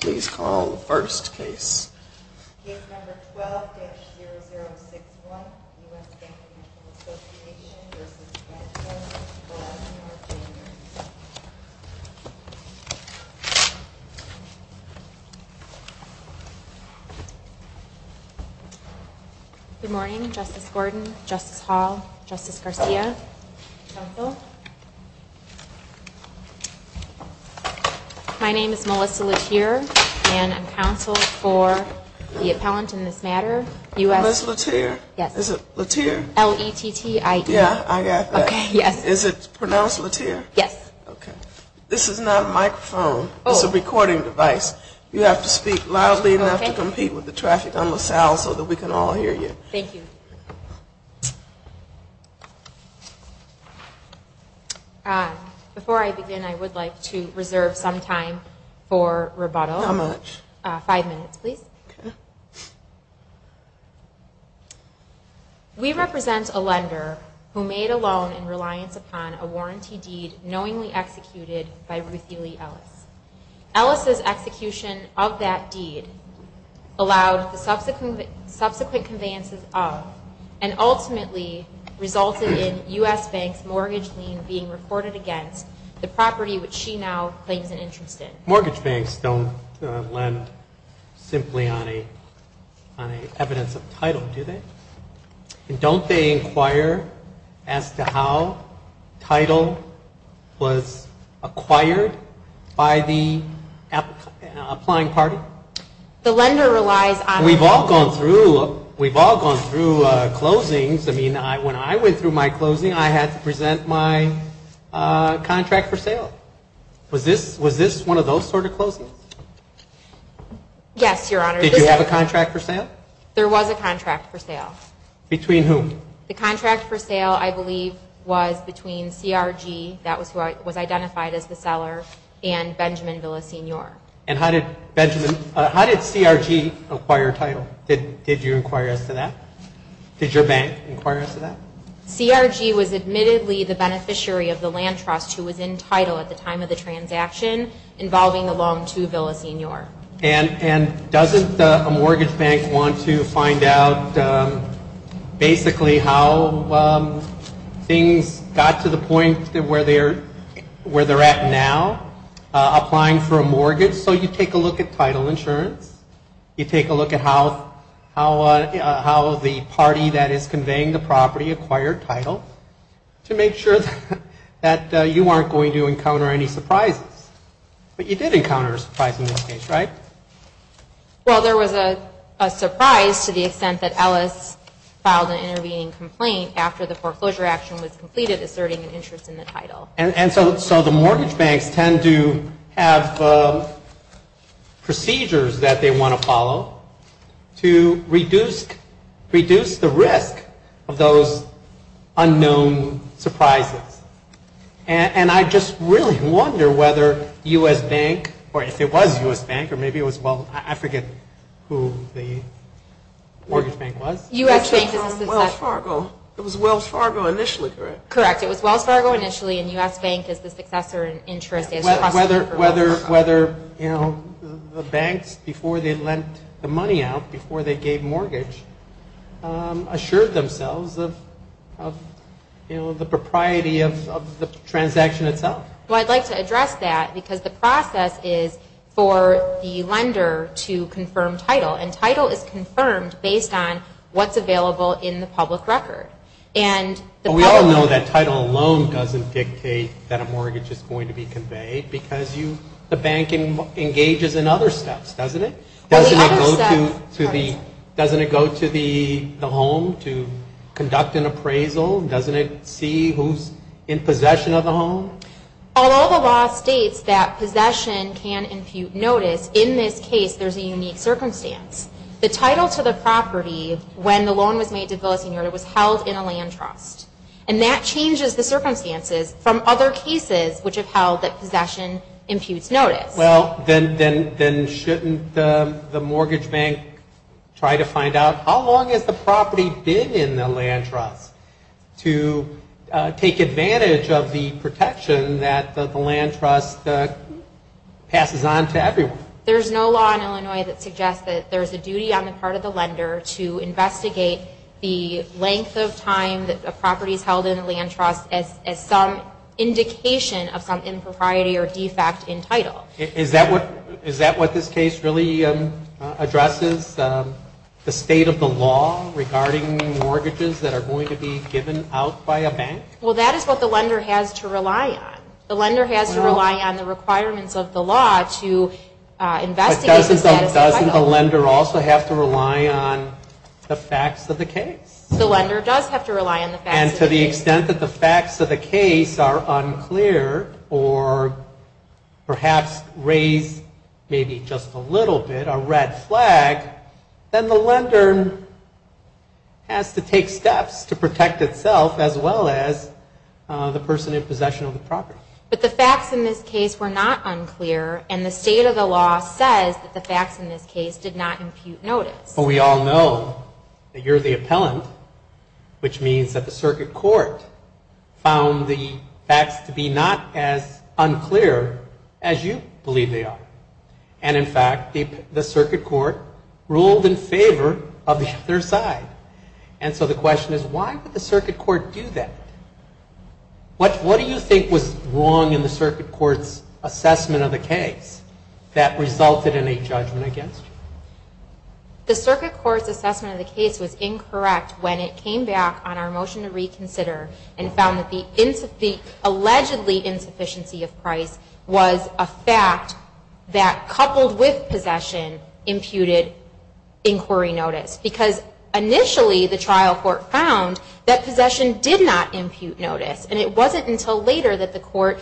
Good morning, Justice Gordon, Justice Hall, Justice Garcia, Council. My name is Melissa Latere and I'm counsel for the appellant in this matter, L-E-T-T-I-E. Is it pronounced Latere? Yes. Okay. This is not a microphone. Oh. It's a recording device. You have to speak loudly enough to compete with the traffic on LaSalle so that we can Thank you. Before I begin, I would like to reserve some time for rebuttal. How much? Five minutes, please. Okay. We represent a lender who made a loan in reliance upon a warranty deed knowingly executed by Ruthie Lee Ellis. Ellis' execution of that deed allowed the subsequent conveyances of and ultimately resulted in U.S. banks' mortgage lien being reported against the property which she now claims an interest in. Mortgage banks don't lend simply on a evidence of title, do they? And don't they inquire as to how title was acquired by the applying party? The lender relies on We've all gone through closings. I mean, when I went through my closings, I had to present my contract for sale. Was this one of those sort of closings? Yes, Your Honor. Did you have a contract for sale? There was a contract for sale. Between whom? The contract for sale, I believe, was between CRG, that was who was identified as the seller, and Benjamin Villasenor. And how did CRG acquire title? Did you inquire as to that? Did your bank inquire as to that? CRG was admittedly the beneficiary of the land trust who was in title at the time of the transaction involving the loan to Villasenor. And doesn't a mortgage bank want to find out basically how things got to the point where they're at now, applying for a mortgage? So you take a look at title insurance. You take a look at how the party that is conveying the property acquired title to make sure that you aren't going to encounter any surprises. But you did encounter a surprise in this case, right? Well, there was a surprise to the extent that Ellis filed an intervening complaint after the foreclosure action was completed asserting an interest in the title. And so the mortgage banks tend to have procedures that they want to follow to reduce the risk of those unknown surprises. And I just really wonder whether U.S. Bank, or if it was U.S. Bank, or maybe it was, well, I forget who the mortgage bank was. U.S. Bank is the successor. It was Wells Fargo initially, correct? Correct. It was Wells Fargo initially, and U.S. Bank is the successor in interest. Whether the banks, before they lent the money out, before they gave mortgage, assured themselves of the propriety of the transaction itself. Well, I'd like to address that because the process is for the lender to confirm title. And title is confirmed based on what's available in the public record. We all know that title alone doesn't dictate that a mortgage is going to be conveyed because the bank engages in other steps, doesn't it? Doesn't it go to the home to conduct an appraisal? Doesn't it see who's in possession of the home? Although the law states that possession can impute notice, in this case there's a unique circumstance. The title to the property when the loan was made to Villasenor was held in a land trust. And that changes the circumstances from other cases which have held that possession imputes notice. Well, then shouldn't the mortgage bank try to find out how long has the property been in the land trust to take advantage of the protection that the land trust passes on to everyone? There's no law in Illinois that suggests that there's a duty on the part of the lender to investigate the length of time that a property is held in a land trust as some indication of some impropriety or defect in title. Is that what this case really addresses? The state of the law regarding mortgages that are going to be given out by a bank? Well, that is what the lender has to rely on. The lender has to rely on the requirements of the law to investigate the status of title. But doesn't the lender also have to rely on the facts of the case? The lender does have to rely on the facts of the case. And to the extent that the facts of the case are unclear or perhaps raise maybe just a little bit a red flag, then the lender has to take steps to protect itself as well as the person in possession of the property. But the facts in this case were not unclear, and the state of the law says that the facts in this case did not impute notice. But we all know that you're the appellant, which means that the circuit court found the facts to be not as unclear as you believe they are. And, in fact, the circuit court ruled in favor of the other side. And so the question is why would the circuit court do that? What do you think was wrong in the circuit court's assessment of the case that resulted in a judgment against you? The circuit court's assessment of the case was incorrect when it came back on our motion to reconsider and found that the allegedly insufficiency of price was a fact that coupled with possession imputed inquiry notice. Because initially the trial court found that possession did not impute notice. And it wasn't until later that the court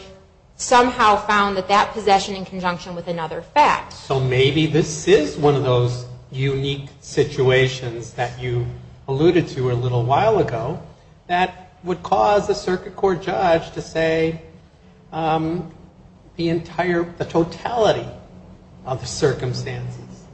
somehow found that that possession in conjunction with another fact. So maybe this is one of those unique situations that you alluded to a little while ago that would cause a circuit court judge to say the totality of the circumstances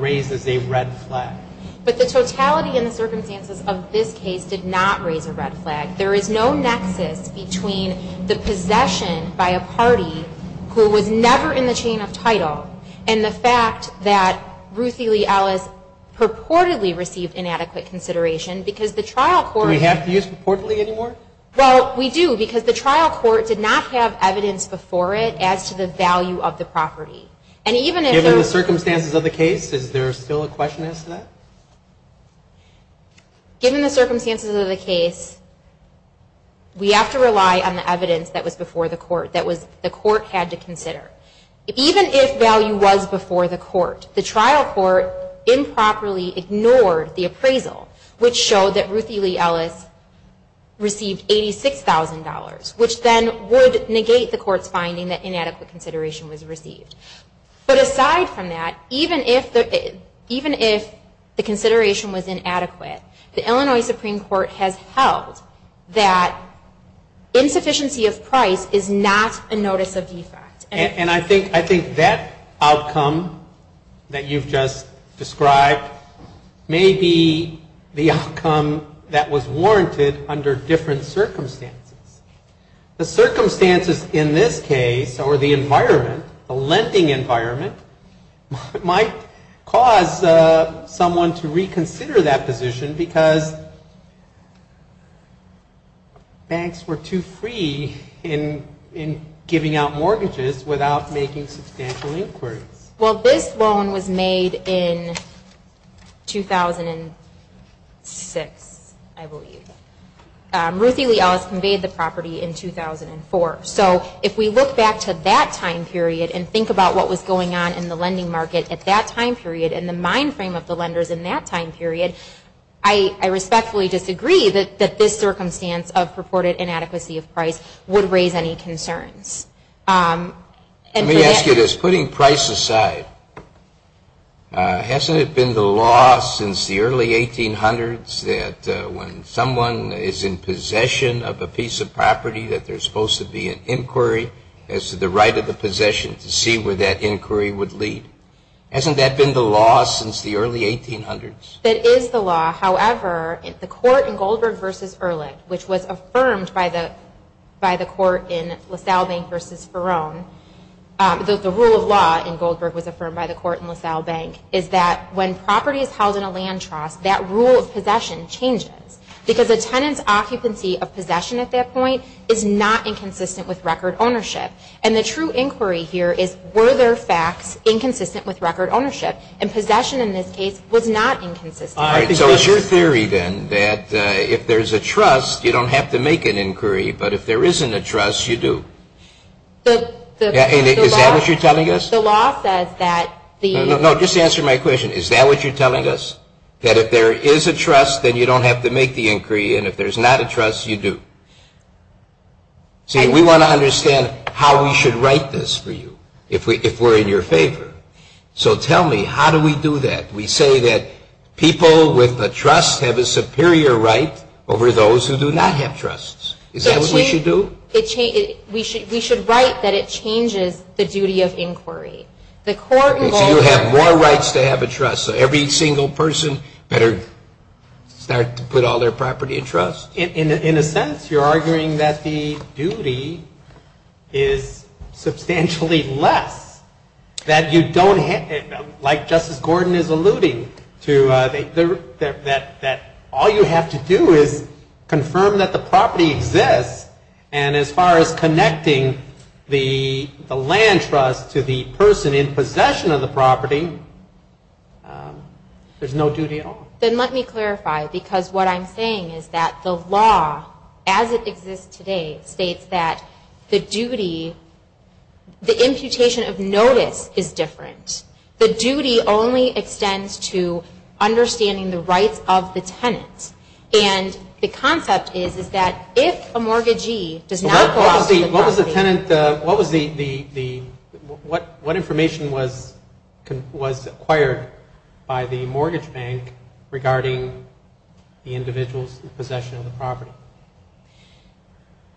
raises a red flag. But the totality and the circumstances of this case did not raise a red flag. There is no nexus between the possession by a party who was never in the chain of title and the fact that Ruthie Lee Ellis purportedly received inadequate consideration because the trial court... Do we have to use purportedly anymore? Well, we do because the trial court did not have evidence before it as to the value of the property. Given the circumstances of the case, is there still a question as to that? Given the circumstances of the case, we have to rely on the evidence that was before the court that the court had to consider. Even if value was before the court, the trial court improperly ignored the appraisal, which showed that Ruthie Lee Ellis received $86,000, which then would negate the court's finding that inadequate consideration was received. But aside from that, even if the consideration was inadequate, the Illinois Supreme Court has held that insufficiency of price is not a notice of defect. And I think that outcome that you've just described may be the outcome that was warranted under different circumstances. The circumstances in this case, or the environment, the lending environment, might cause someone to reconsider that position because banks were too free in giving out mortgages without making substantial inquiries. Well, this loan was made in 2006, I believe. Ruthie Lee Ellis conveyed the property in 2004. So if we look back to that time period and think about what was going on in the lending market at that time period and the mind frame of the lenders in that time period, I respectfully disagree that this circumstance of purported inadequacy of price would raise any concerns. Let me ask you this. Putting price aside, hasn't it been the law since the early 1800s that when someone is in possession of a piece of property that there's supposed to be an inquiry as to the right of the possession to see where that inquiry would lead? Hasn't that been the law since the early 1800s? It is the law. However, the court in Goldberg v. Erlich, which was affirmed by the court in LaSalle Bank v. Ferron, the rule of law in Goldberg was affirmed by the court in LaSalle Bank, is that when property is held in a land trust, that rule of possession changes because a tenant's occupancy of possession at that point is not inconsistent with record ownership. And the true inquiry here is, were there facts inconsistent with record ownership? And possession in this case was not inconsistent. So it's your theory then that if there's a trust, you don't have to make an inquiry, but if there isn't a trust, you do. Is that what you're telling us? The law says that the... No, just answer my question. Is that what you're telling us? That if there is a trust, then you don't have to make the inquiry, and if there's not a trust, you do. See, we want to understand how we should write this for you, if we're in your favor. So tell me, how do we do that? We say that people with a trust have a superior right over those who do not have trusts. Is that what we should do? We should write that it changes the duty of inquiry. The court in Goldberg... Okay, so you have more rights to have a trust, so every single person better start to put all their property in trust? In a sense, you're arguing that the duty is substantially less, that you don't have... Like Justice Gordon is alluding to, that all you have to do is confirm that the property exists, and as far as connecting the land trust to the person in possession of the property, there's no duty at all. Then let me clarify, because what I'm saying is that the law, as it exists today, states that the duty... The imputation of notice is different. The duty only extends to understanding the rights of the tenant, and the concept is that if a mortgagee does not... What was the tenant... What information was acquired by the mortgage bank regarding the individual's possession of the property?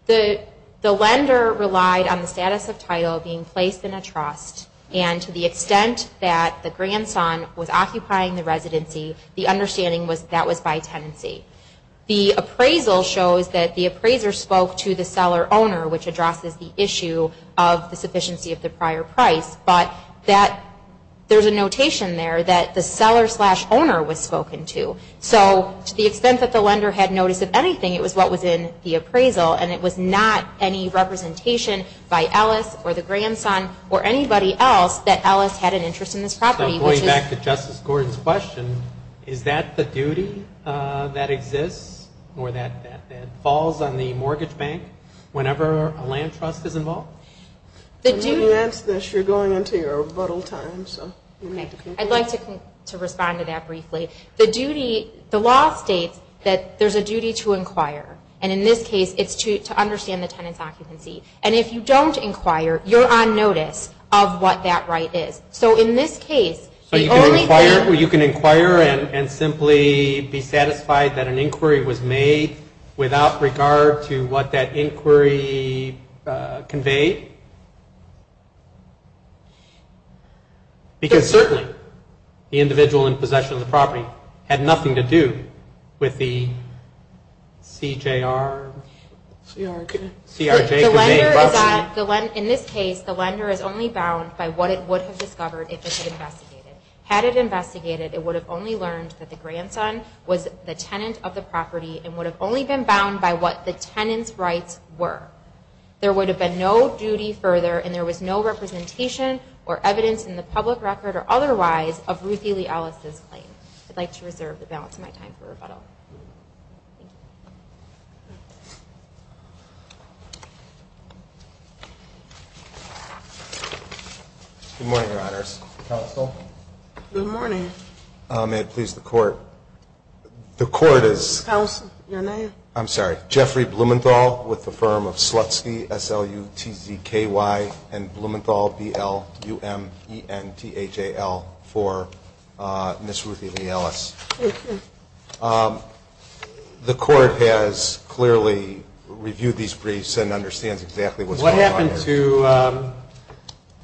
The lender relied on the status of title being placed in a trust, and to the extent that the grandson was occupying the residency, the understanding was that was by tenancy. The appraisal shows that the appraiser spoke to the seller-owner, which addresses the issue of the sufficiency of the prior price, but there's a notation there that the seller-owner was spoken to. So to the extent that the lender had notice of anything, it was what was in the appraisal, and it was not any representation by Ellis or the grandson or anybody else that Ellis had an interest in this property. Going back to Justice Gordon's question, is that the duty that exists or that falls on the mortgage bank whenever a land trust is involved? When you answer this, you're going into your rebuttal time. I'd like to respond to that briefly. The law states that there's a duty to inquire, and in this case it's to understand the tenant's occupancy. And if you don't inquire, you're on notice of what that right is. So in this case, the only thing... So you can inquire and simply be satisfied that an inquiry was made without regard to what that inquiry conveyed? Because certainly the individual in possession of the property had nothing to do with the CJR... CRJ... In this case, the lender is only bound by what it would have discovered if it had investigated. Had it investigated, it would have only learned that the grandson was the tenant of the property and would have only been bound by what the tenant's rights were. There would have been no duty further, and there was no representation or evidence in the public record or otherwise of Ruthie Lee Ellis' claim. I'd like to reserve the balance of my time for rebuttal. Thank you. Good morning, Your Honors. Counsel? Good morning. May it please the Court. The Court is... Counsel, your name? I'm sorry. Jeffrey Blumenthal with the firm of Slutsky, S-L-U-T-Z-K-Y, and Blumenthal, B-L-U-M-E-N-T-H-A-L, for Ms. Ruthie Lee Ellis. The Court has clearly reviewed these briefs and understands exactly what's going on here.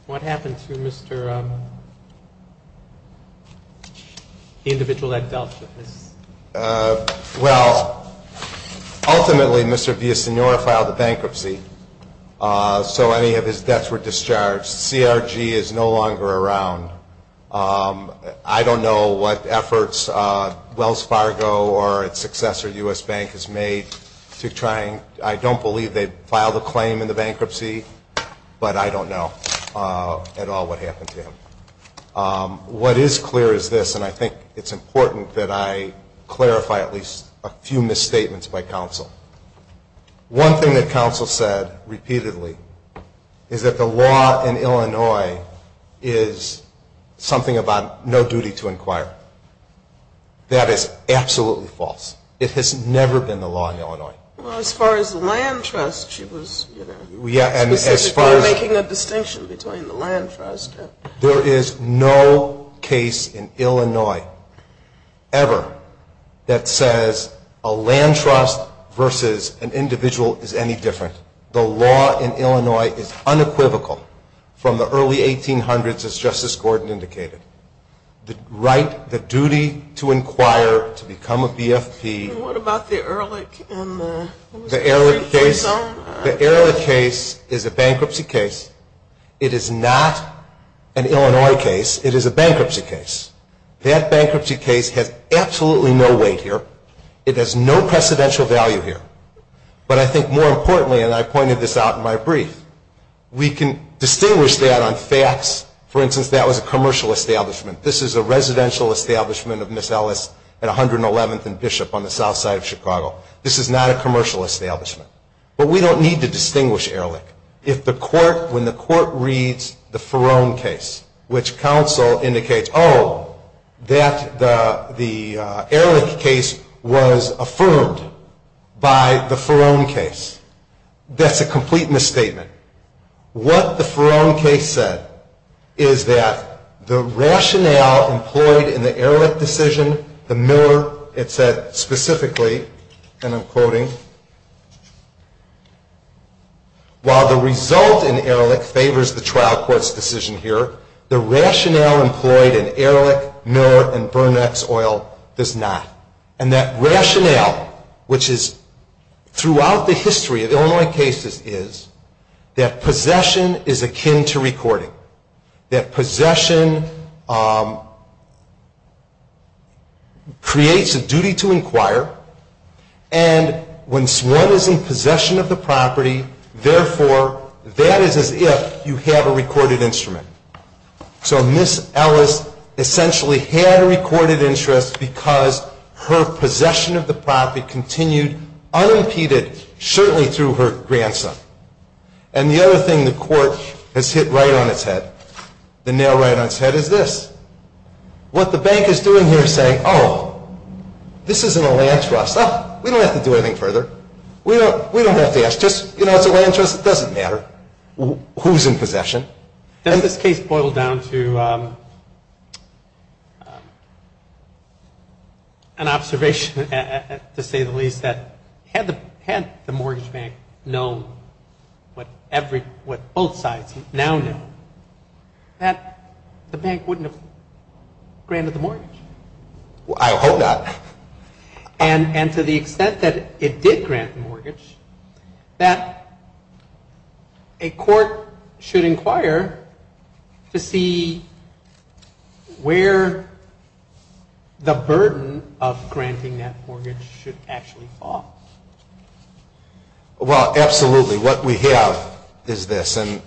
What happened to Mr.... the individual that dealt with this? Well, ultimately, Mr. Villasenor filed a bankruptcy, so any of his debts were discharged. CRG is no longer around. I don't know what efforts Wells Fargo or its successor, U.S. Bank, has made to try and... but I don't know at all what happened to him. What is clear is this, and I think it's important that I clarify at least a few misstatements by counsel. One thing that counsel said repeatedly is that the law in Illinois is something about no duty to inquire. That is absolutely false. It has never been the law in Illinois. Well, as far as the land trust, she was specifically making a distinction between the land trust and... There is no case in Illinois ever that says a land trust versus an individual is any different. The law in Illinois is unequivocal from the early 1800s, as Justice Gordon indicated. The duty to inquire, to become a BFP... What about the Ehrlich case? The Ehrlich case is a bankruptcy case. It is not an Illinois case. It is a bankruptcy case. That bankruptcy case has absolutely no weight here. It has no precedential value here. But I think more importantly, and I pointed this out in my brief, we can distinguish that on facts. For instance, that was a commercial establishment. This is a residential establishment of Miss Ellis and 111th and Bishop on the south side of Chicago. This is not a commercial establishment. But we don't need to distinguish Ehrlich. If the court, when the court reads the Ferone case, which counsel indicates, oh, that the Ehrlich case was affirmed by the Ferone case, that's a complete misstatement. What the Ferone case said is that the rationale employed in the Ehrlich decision, the Miller, it said specifically, and I'm quoting, while the result in Ehrlich favors the trial court's decision here, the rationale employed in Ehrlich, Miller, and Bernax Oil does not. And that rationale, which is throughout the history of Illinois cases, is that possession is akin to recording. That possession creates a duty to inquire. And when one is in possession of the property, therefore, that is as if you have a recorded instrument. So Miss Ellis essentially had a recorded interest because her possession of the property continued unimpeded, certainly through her grandson. And the other thing the court has hit right on its head, the nail right on its head, is this. What the bank is doing here is saying, oh, this isn't a land trust. Oh, we don't have to do anything further. We don't have to ask. Just, you know, it's a land trust. It doesn't matter who's in possession. Doesn't this case boil down to an observation, to say the least, that had the mortgage bank known what both sides now know, that the bank wouldn't have granted the mortgage? I hope not. And to the extent that it did grant the mortgage, that a court should inquire to see where the burden of granting that mortgage should actually fall. Well, absolutely. What we have is this. And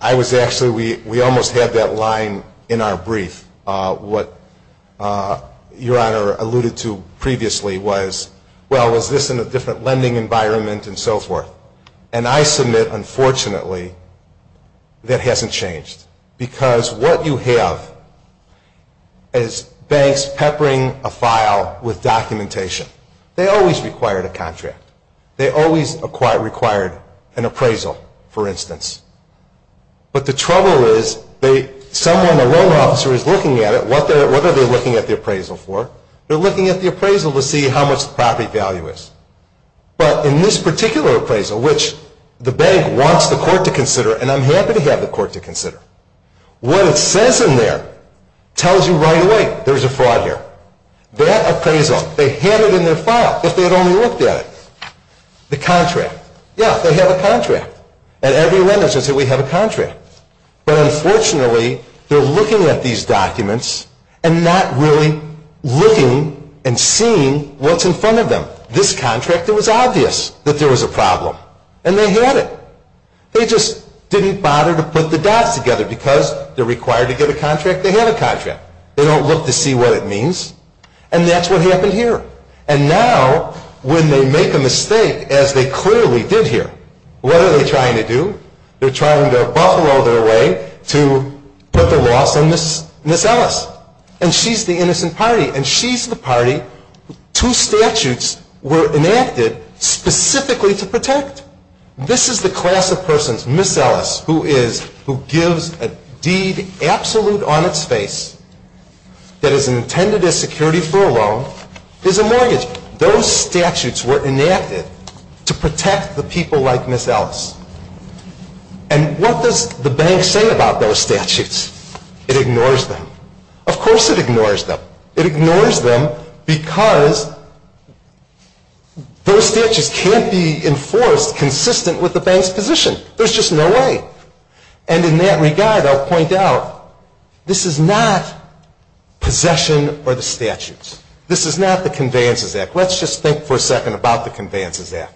I was actually, we almost had that line in our brief, what Your Honor alluded to previously was, well, was this in a different lending environment and so forth? And I submit, unfortunately, that hasn't changed. Because what you have is banks peppering a file with documentation. They always required a contract. They always required an appraisal, for instance. But the trouble is, someone, a loan officer, is looking at it. What are they looking at the appraisal for? They're looking at the appraisal to see how much the property value is. But in this particular appraisal, which the bank wants the court to consider, and I'm happy to have the court to consider, what it says in there tells you right away there's a fraud here. That appraisal, they had it in their file, but they had only looked at it. The contract. Yeah, they have a contract. At every lending center we have a contract. But unfortunately, they're looking at these documents and not really looking and seeing what's in front of them. This contract, it was obvious that there was a problem. And they had it. They just didn't bother to put the dots together. Because they're required to get a contract, they have a contract. They don't look to see what it means. And that's what happened here. And now, when they make a mistake, as they clearly did here, what are they trying to do? They're trying to buffalo their way to put the loss on Miss Ellis. And she's the innocent party. And she's the party two statutes were enacted specifically to protect. This is the class of persons. Miss Ellis, who gives a deed absolute on its face that is intended as security for a loan, is a mortgage. Those statutes were enacted to protect the people like Miss Ellis. And what does the bank say about those statutes? It ignores them. Of course it ignores them. It ignores them because those statutes can't be enforced consistent with the bank's position. There's just no way. And in that regard, I'll point out, this is not possession or the statutes. This is not the Conveyances Act. Let's just think for a second about the Conveyances Act.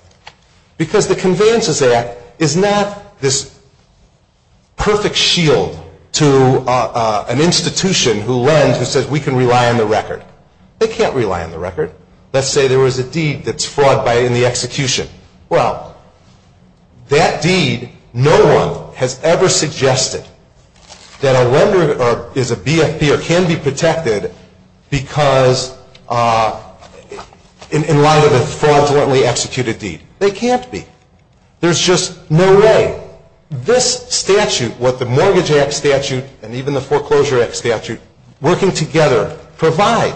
Because the Conveyances Act is not this perfect shield to an institution who lends, who says we can rely on the record. They can't rely on the record. Let's say there was a deed that's fraud in the execution. Well, that deed, no one has ever suggested that a lender is a BFP or can be protected because in light of a fraudulently executed deed. They can't be. There's just no way. This statute, what the Mortgage Act statute and even the Foreclosure Act statute working together provide,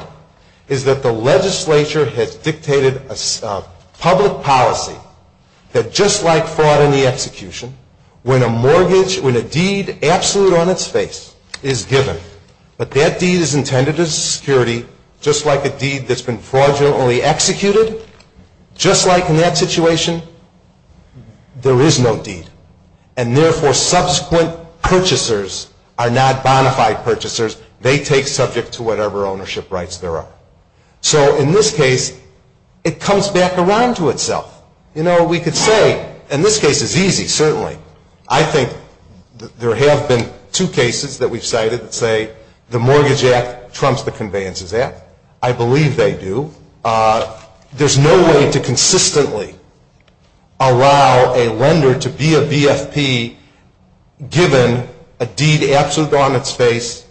is that the legislature has dictated a public policy that just like fraud in the execution, when a mortgage, when a deed absolute on its face is given, but that deed is intended as a security just like a deed that's been fraudulently executed, just like in that situation, there is no deed. And therefore, subsequent purchasers are not bonafide purchasers. They take subject to whatever ownership rights there are. So in this case, it comes back around to itself. You know, we could say, and this case is easy, certainly. I think there have been two cases that we've cited that say the Mortgage Act trumps the Conveyances Act. I believe they do. There's no way to consistently allow a lender to be a BFP given a deed absolute on its face,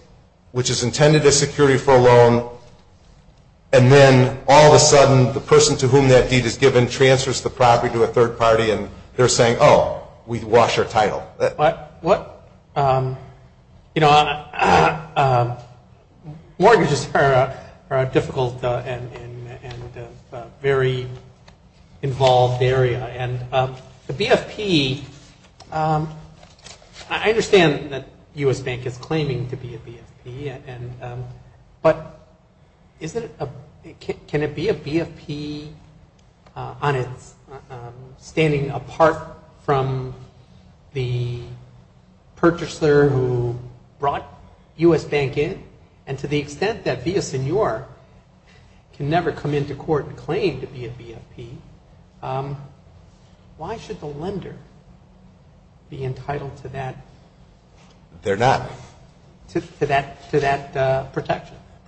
which is intended as security for a loan, and then all of a sudden the person to whom that deed is given transfers the property to a third party and they're saying, oh, we wash our title. What? Mortgages are a difficult and very involved area. And the BFP, I understand that U.S. Bank is claiming to be a BFP, but can it be a BFP standing apart from the purchaser who brought U.S. Bank in? And to the extent that Villasenor can never come into court and claim to be a BFP, why should the lender be entitled to that? The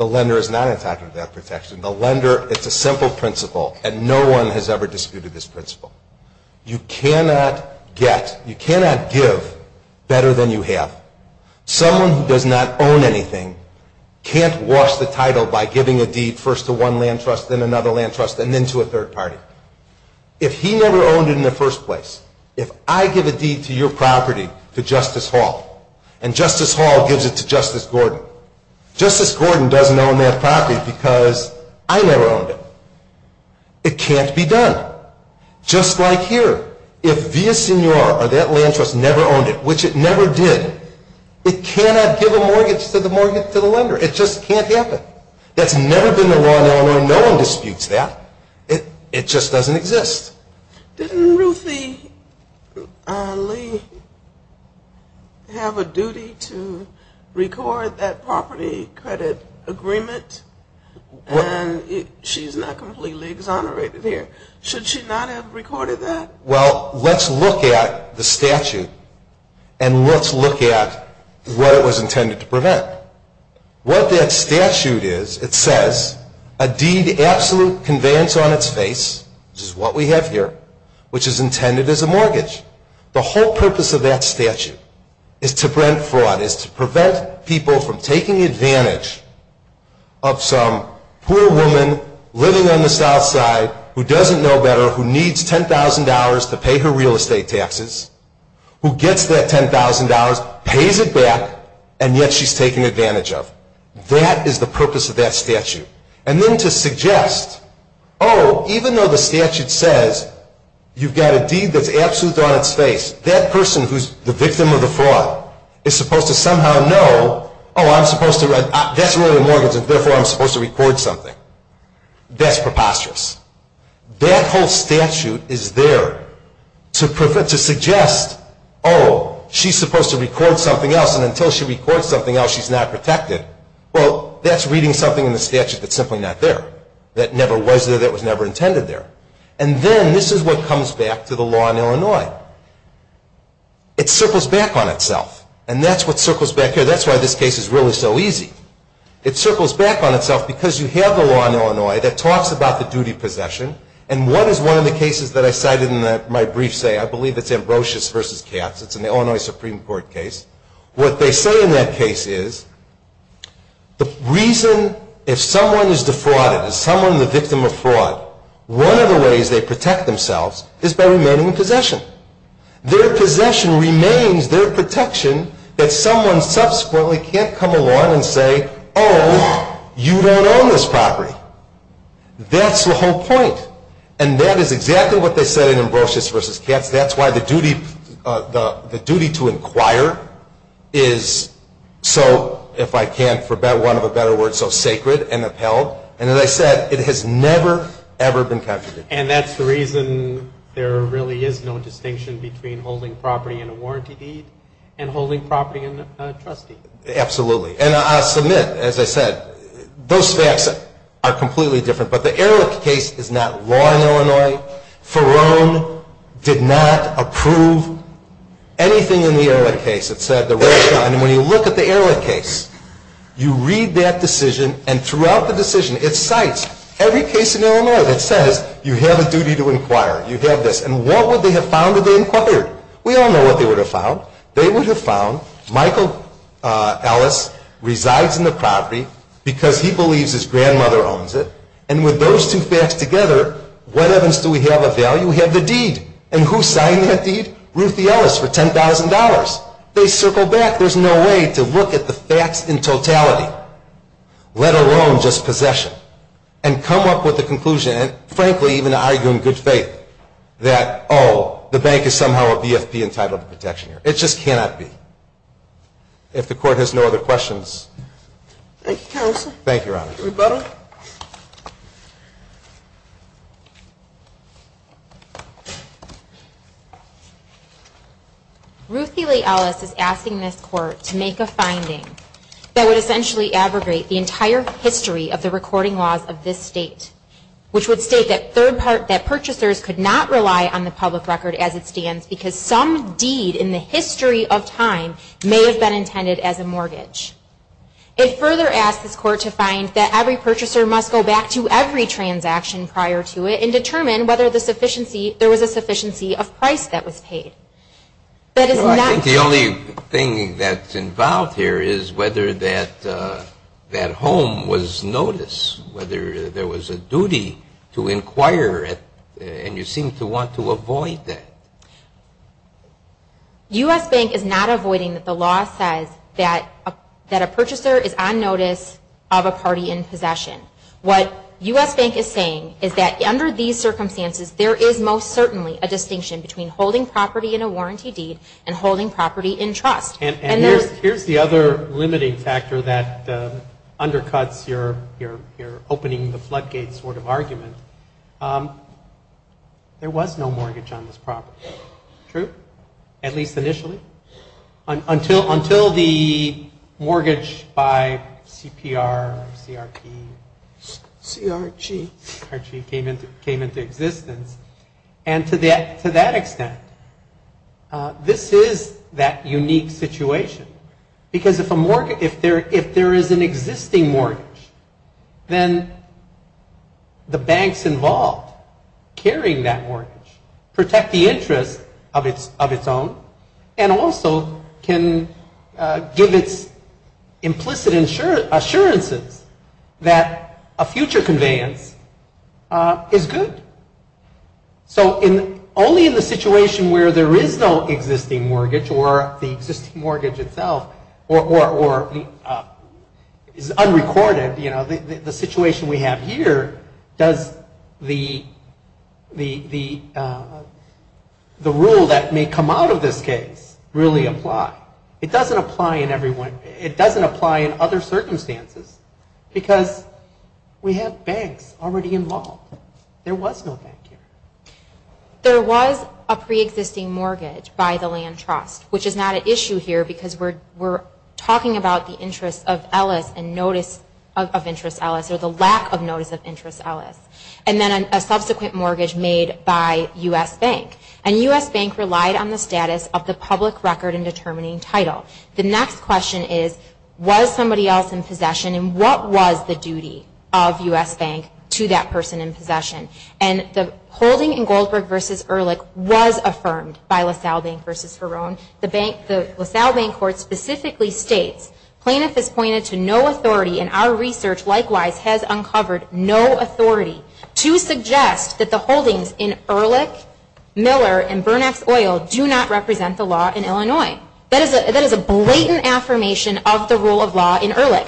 lender is not entitled to that protection. The lender, it's a simple principle, and no one has ever disputed this principle. You cannot get, you cannot give better than you have. Someone who does not own anything can't wash the title by giving a deed first to one land trust, then another land trust, and then to a third party. If he never owned it in the first place, if I give a deed to your property to Justice Hall and Justice Hall gives it to Justice Gordon, Justice Gordon doesn't own that property because I never owned it. It can't be done. Just like here, if Villasenor or that land trust never owned it, which it never did, it cannot give a mortgage to the lender. It just can't happen. That's never been the law in Illinois. No one disputes that. It just doesn't exist. Didn't Ruthie Lee have a duty to record that property credit agreement? And she's not completely exonerated here. Should she not have recorded that? Well, let's look at the statute, and let's look at what it was intended to prevent. What that statute is, it says, a deed absolute conveyance on its face, which is what we have here, which is intended as a mortgage. The whole purpose of that statute is to prevent fraud, is to prevent people from taking advantage of some poor woman living on the south side who doesn't know better, who needs $10,000 to pay her real estate taxes, who gets that $10,000, pays it back, and yet she's taking advantage of. That is the purpose of that statute. And then to suggest, oh, even though the statute says you've got a deed that's absolute on its face, that person who's the victim of the fraud is supposed to somehow know, oh, I'm supposed to write, that's really a mortgage, and therefore I'm supposed to record something. That's preposterous. That whole statute is there to suggest, oh, she's supposed to record something else, and until she records something else, she's not protected. Well, that's reading something in the statute that's simply not there, that never was there, that was never intended there. And then this is what comes back to the law in Illinois. It circles back on itself, and that's what circles back here. That's why this case is really so easy. It circles back on itself because you have the law in Illinois that talks about the duty possession, and what is one of the cases that I cited in my brief say, I believe it's Ambrosius v. Katz, it's an Illinois Supreme Court case. What they say in that case is the reason if someone is defrauded, if someone is the victim of fraud, one of the ways they protect themselves is by remaining in possession. Their possession remains their protection that someone subsequently can't come along and say, oh, you don't own this property. That's the whole point, and that is exactly what they said in Ambrosius v. Katz. That's why the duty to inquire is so, if I can't forbid one of a better word, so sacred and upheld, and as I said, it has never, ever been captured. And that's the reason there really is no distinction between holding property in a warranty deed and holding property in a trust deed. Absolutely, and I'll submit, as I said, those facts are completely different, but the Ehrlich case is not law in Illinois. Ferone did not approve anything in the Ehrlich case. It said that when you look at the Ehrlich case, you read that decision, and throughout the decision, it cites every case in Illinois that says you have a duty to inquire, you have this, and what would they have found if they inquired? We all know what they would have found. They would have found Michael Ellis resides in the property because he believes his grandmother owns it, and with those two facts together, what evidence do we have of value? We have the deed, and who signed that deed? Ruthie Ellis for $10,000. They circle back. There's no way to look at the facts in totality, let alone just possession, and come up with a conclusion, and frankly, even argue in good faith that, oh, the bank is somehow a BFP entitled to protection here. It just cannot be. If the Court has no other questions. Thank you, Counsel. Thank you, Your Honor. Rebuttal. Rebuttal. Ruthie Lee Ellis is asking this Court to make a finding that would essentially abrogate the entire history of the recording laws of this state, which would state that third part, that purchasers could not rely on the public record as it stands because some deed in the history of time may have been intended as a mortgage. It further asks this Court to find that every purchaser must go back to every transaction prior to it and determine whether there was a sufficiency of price that was paid. I think the only thing that's involved here is whether that home was noticed, whether there was a duty to inquire, and you seem to want to avoid that. U.S. Bank is not avoiding that the law says that a purchaser is on notice of a party in possession. What U.S. Bank is saying is that under these circumstances, there is most certainly a distinction between holding property in a warranty deed and holding property in trust. And here's the other limiting factor that undercuts your opening the floodgate sort of argument. There was no mortgage on this property, true? At least initially? Until the mortgage by CPR, CRG, came into existence. And to that extent, this is that unique situation because if there is an existing mortgage, then the banks involved carrying that mortgage protect the interest of its own and also can give its implicit assurances that a future conveyance is good. So only in the situation where there is no existing mortgage or the existing mortgage itself or is unrecorded, you know, the situation we have here, does the rule that may come out of this case really apply? It doesn't apply in other circumstances because we have banks already involved. There was no bank here. There was a preexisting mortgage by the land trust, which is not an issue here because we're talking about the interest of Ellis and notice of interest Ellis or the lack of notice of interest Ellis. And then a subsequent mortgage made by U.S. Bank. And U.S. Bank relied on the status of the public record in determining title. The next question is, was somebody else in possession and what was the duty of U.S. Bank to that person in possession? And the holding in Goldberg v. Ehrlich was affirmed by LaSalle Bank v. Verone. The LaSalle Bank Court specifically states, plaintiff has pointed to no authority and our research likewise has uncovered no authority to suggest that the holdings in Ehrlich, Miller, and Burnax Oil do not represent the law in Illinois. That is a blatant affirmation of the rule of law in Ehrlich.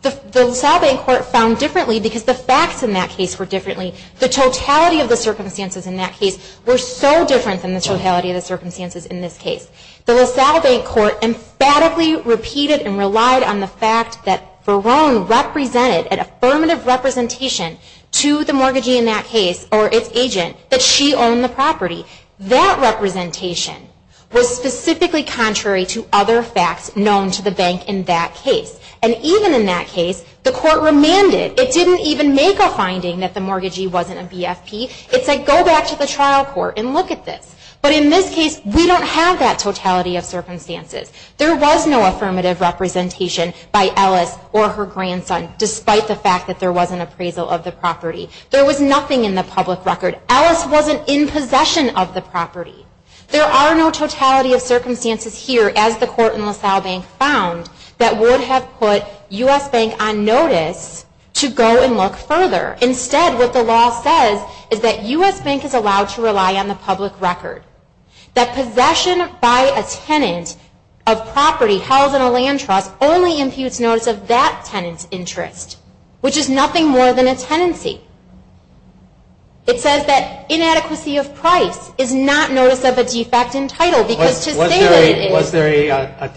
The LaSalle Bank Court found differently because the facts in that case were differently. The totality of the circumstances in that case were so different than the totality of the circumstances in this case. The LaSalle Bank Court emphatically repeated and relied on the fact that Verone represented an affirmative representation to the mortgagee in that case or its agent that she owned the property. That representation was specifically contrary to other facts known to the bank in that case. And even in that case, the court remanded. It didn't even make a finding that the mortgagee wasn't a BFP. It said, go back to the trial court and look at this. But in this case, we don't have that totality of circumstances. There was no affirmative representation by Ellis or her grandson, despite the fact that there was an appraisal of the property. There was nothing in the public record. Ellis wasn't in possession of the property. There are no totality of circumstances here, as the court in LaSalle Bank found, that would have put U.S. Bank on notice to go and look further. Instead, what the law says is that U.S. Bank is allowed to rely on the public record. That possession by a tenant of property held in a land trust only imputes notice of that tenant's interest, which is nothing more than a tenancy. It says that inadequacy of price is not notice of a defect in title because to say that it is... Was there a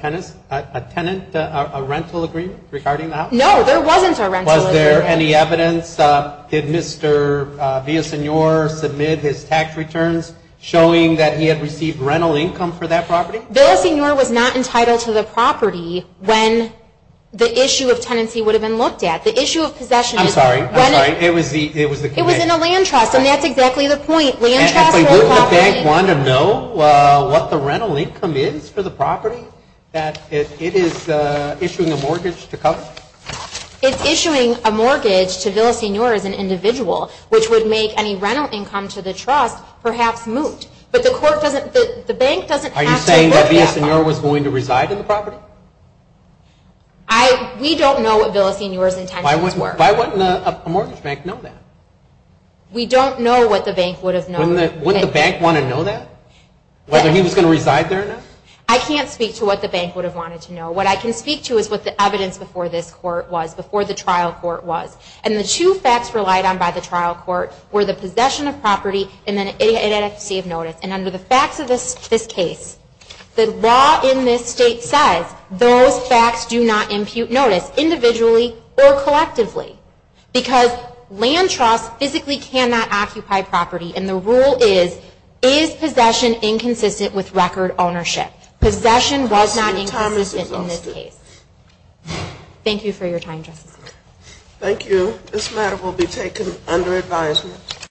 tenant, a rental agreement regarding that? No, there wasn't a rental agreement. Was there any evidence? Did Mr. Villasenor submit his tax returns showing that he had received rental income for that property? Villasenor was not entitled to the property when the issue of tenancy would have been looked at. The issue of possession... I'm sorry. It was in a land trust, and that's exactly the point. Wouldn't the bank want to know what the rental income is for the property that it is issuing a mortgage to cover? It's issuing a mortgage to Villasenor as an individual, which would make any rental income to the trust perhaps moot, but the bank doesn't have to look at that. Are you saying that Villasenor was going to reside in the property? We don't know what Villasenor's intentions were. Why wouldn't a mortgage bank know that? We don't know what the bank would have known. Wouldn't the bank want to know that? Whether he was going to reside there or not? I can't speak to what the bank would have wanted to know. What I can speak to is what the evidence before this court was, before the trial court was, and the two facts relied on by the trial court were the possession of property and the inadequacy of notice, and under the facts of this case, the law in this state says those facts do not impute notice, individually or collectively, because land trusts physically cannot occupy property, and the rule is, is possession inconsistent with record ownership? Possession was not inconsistent in this case. Thank you for your time, Justice Ginsburg. Thank you. This matter will be taken under advisement.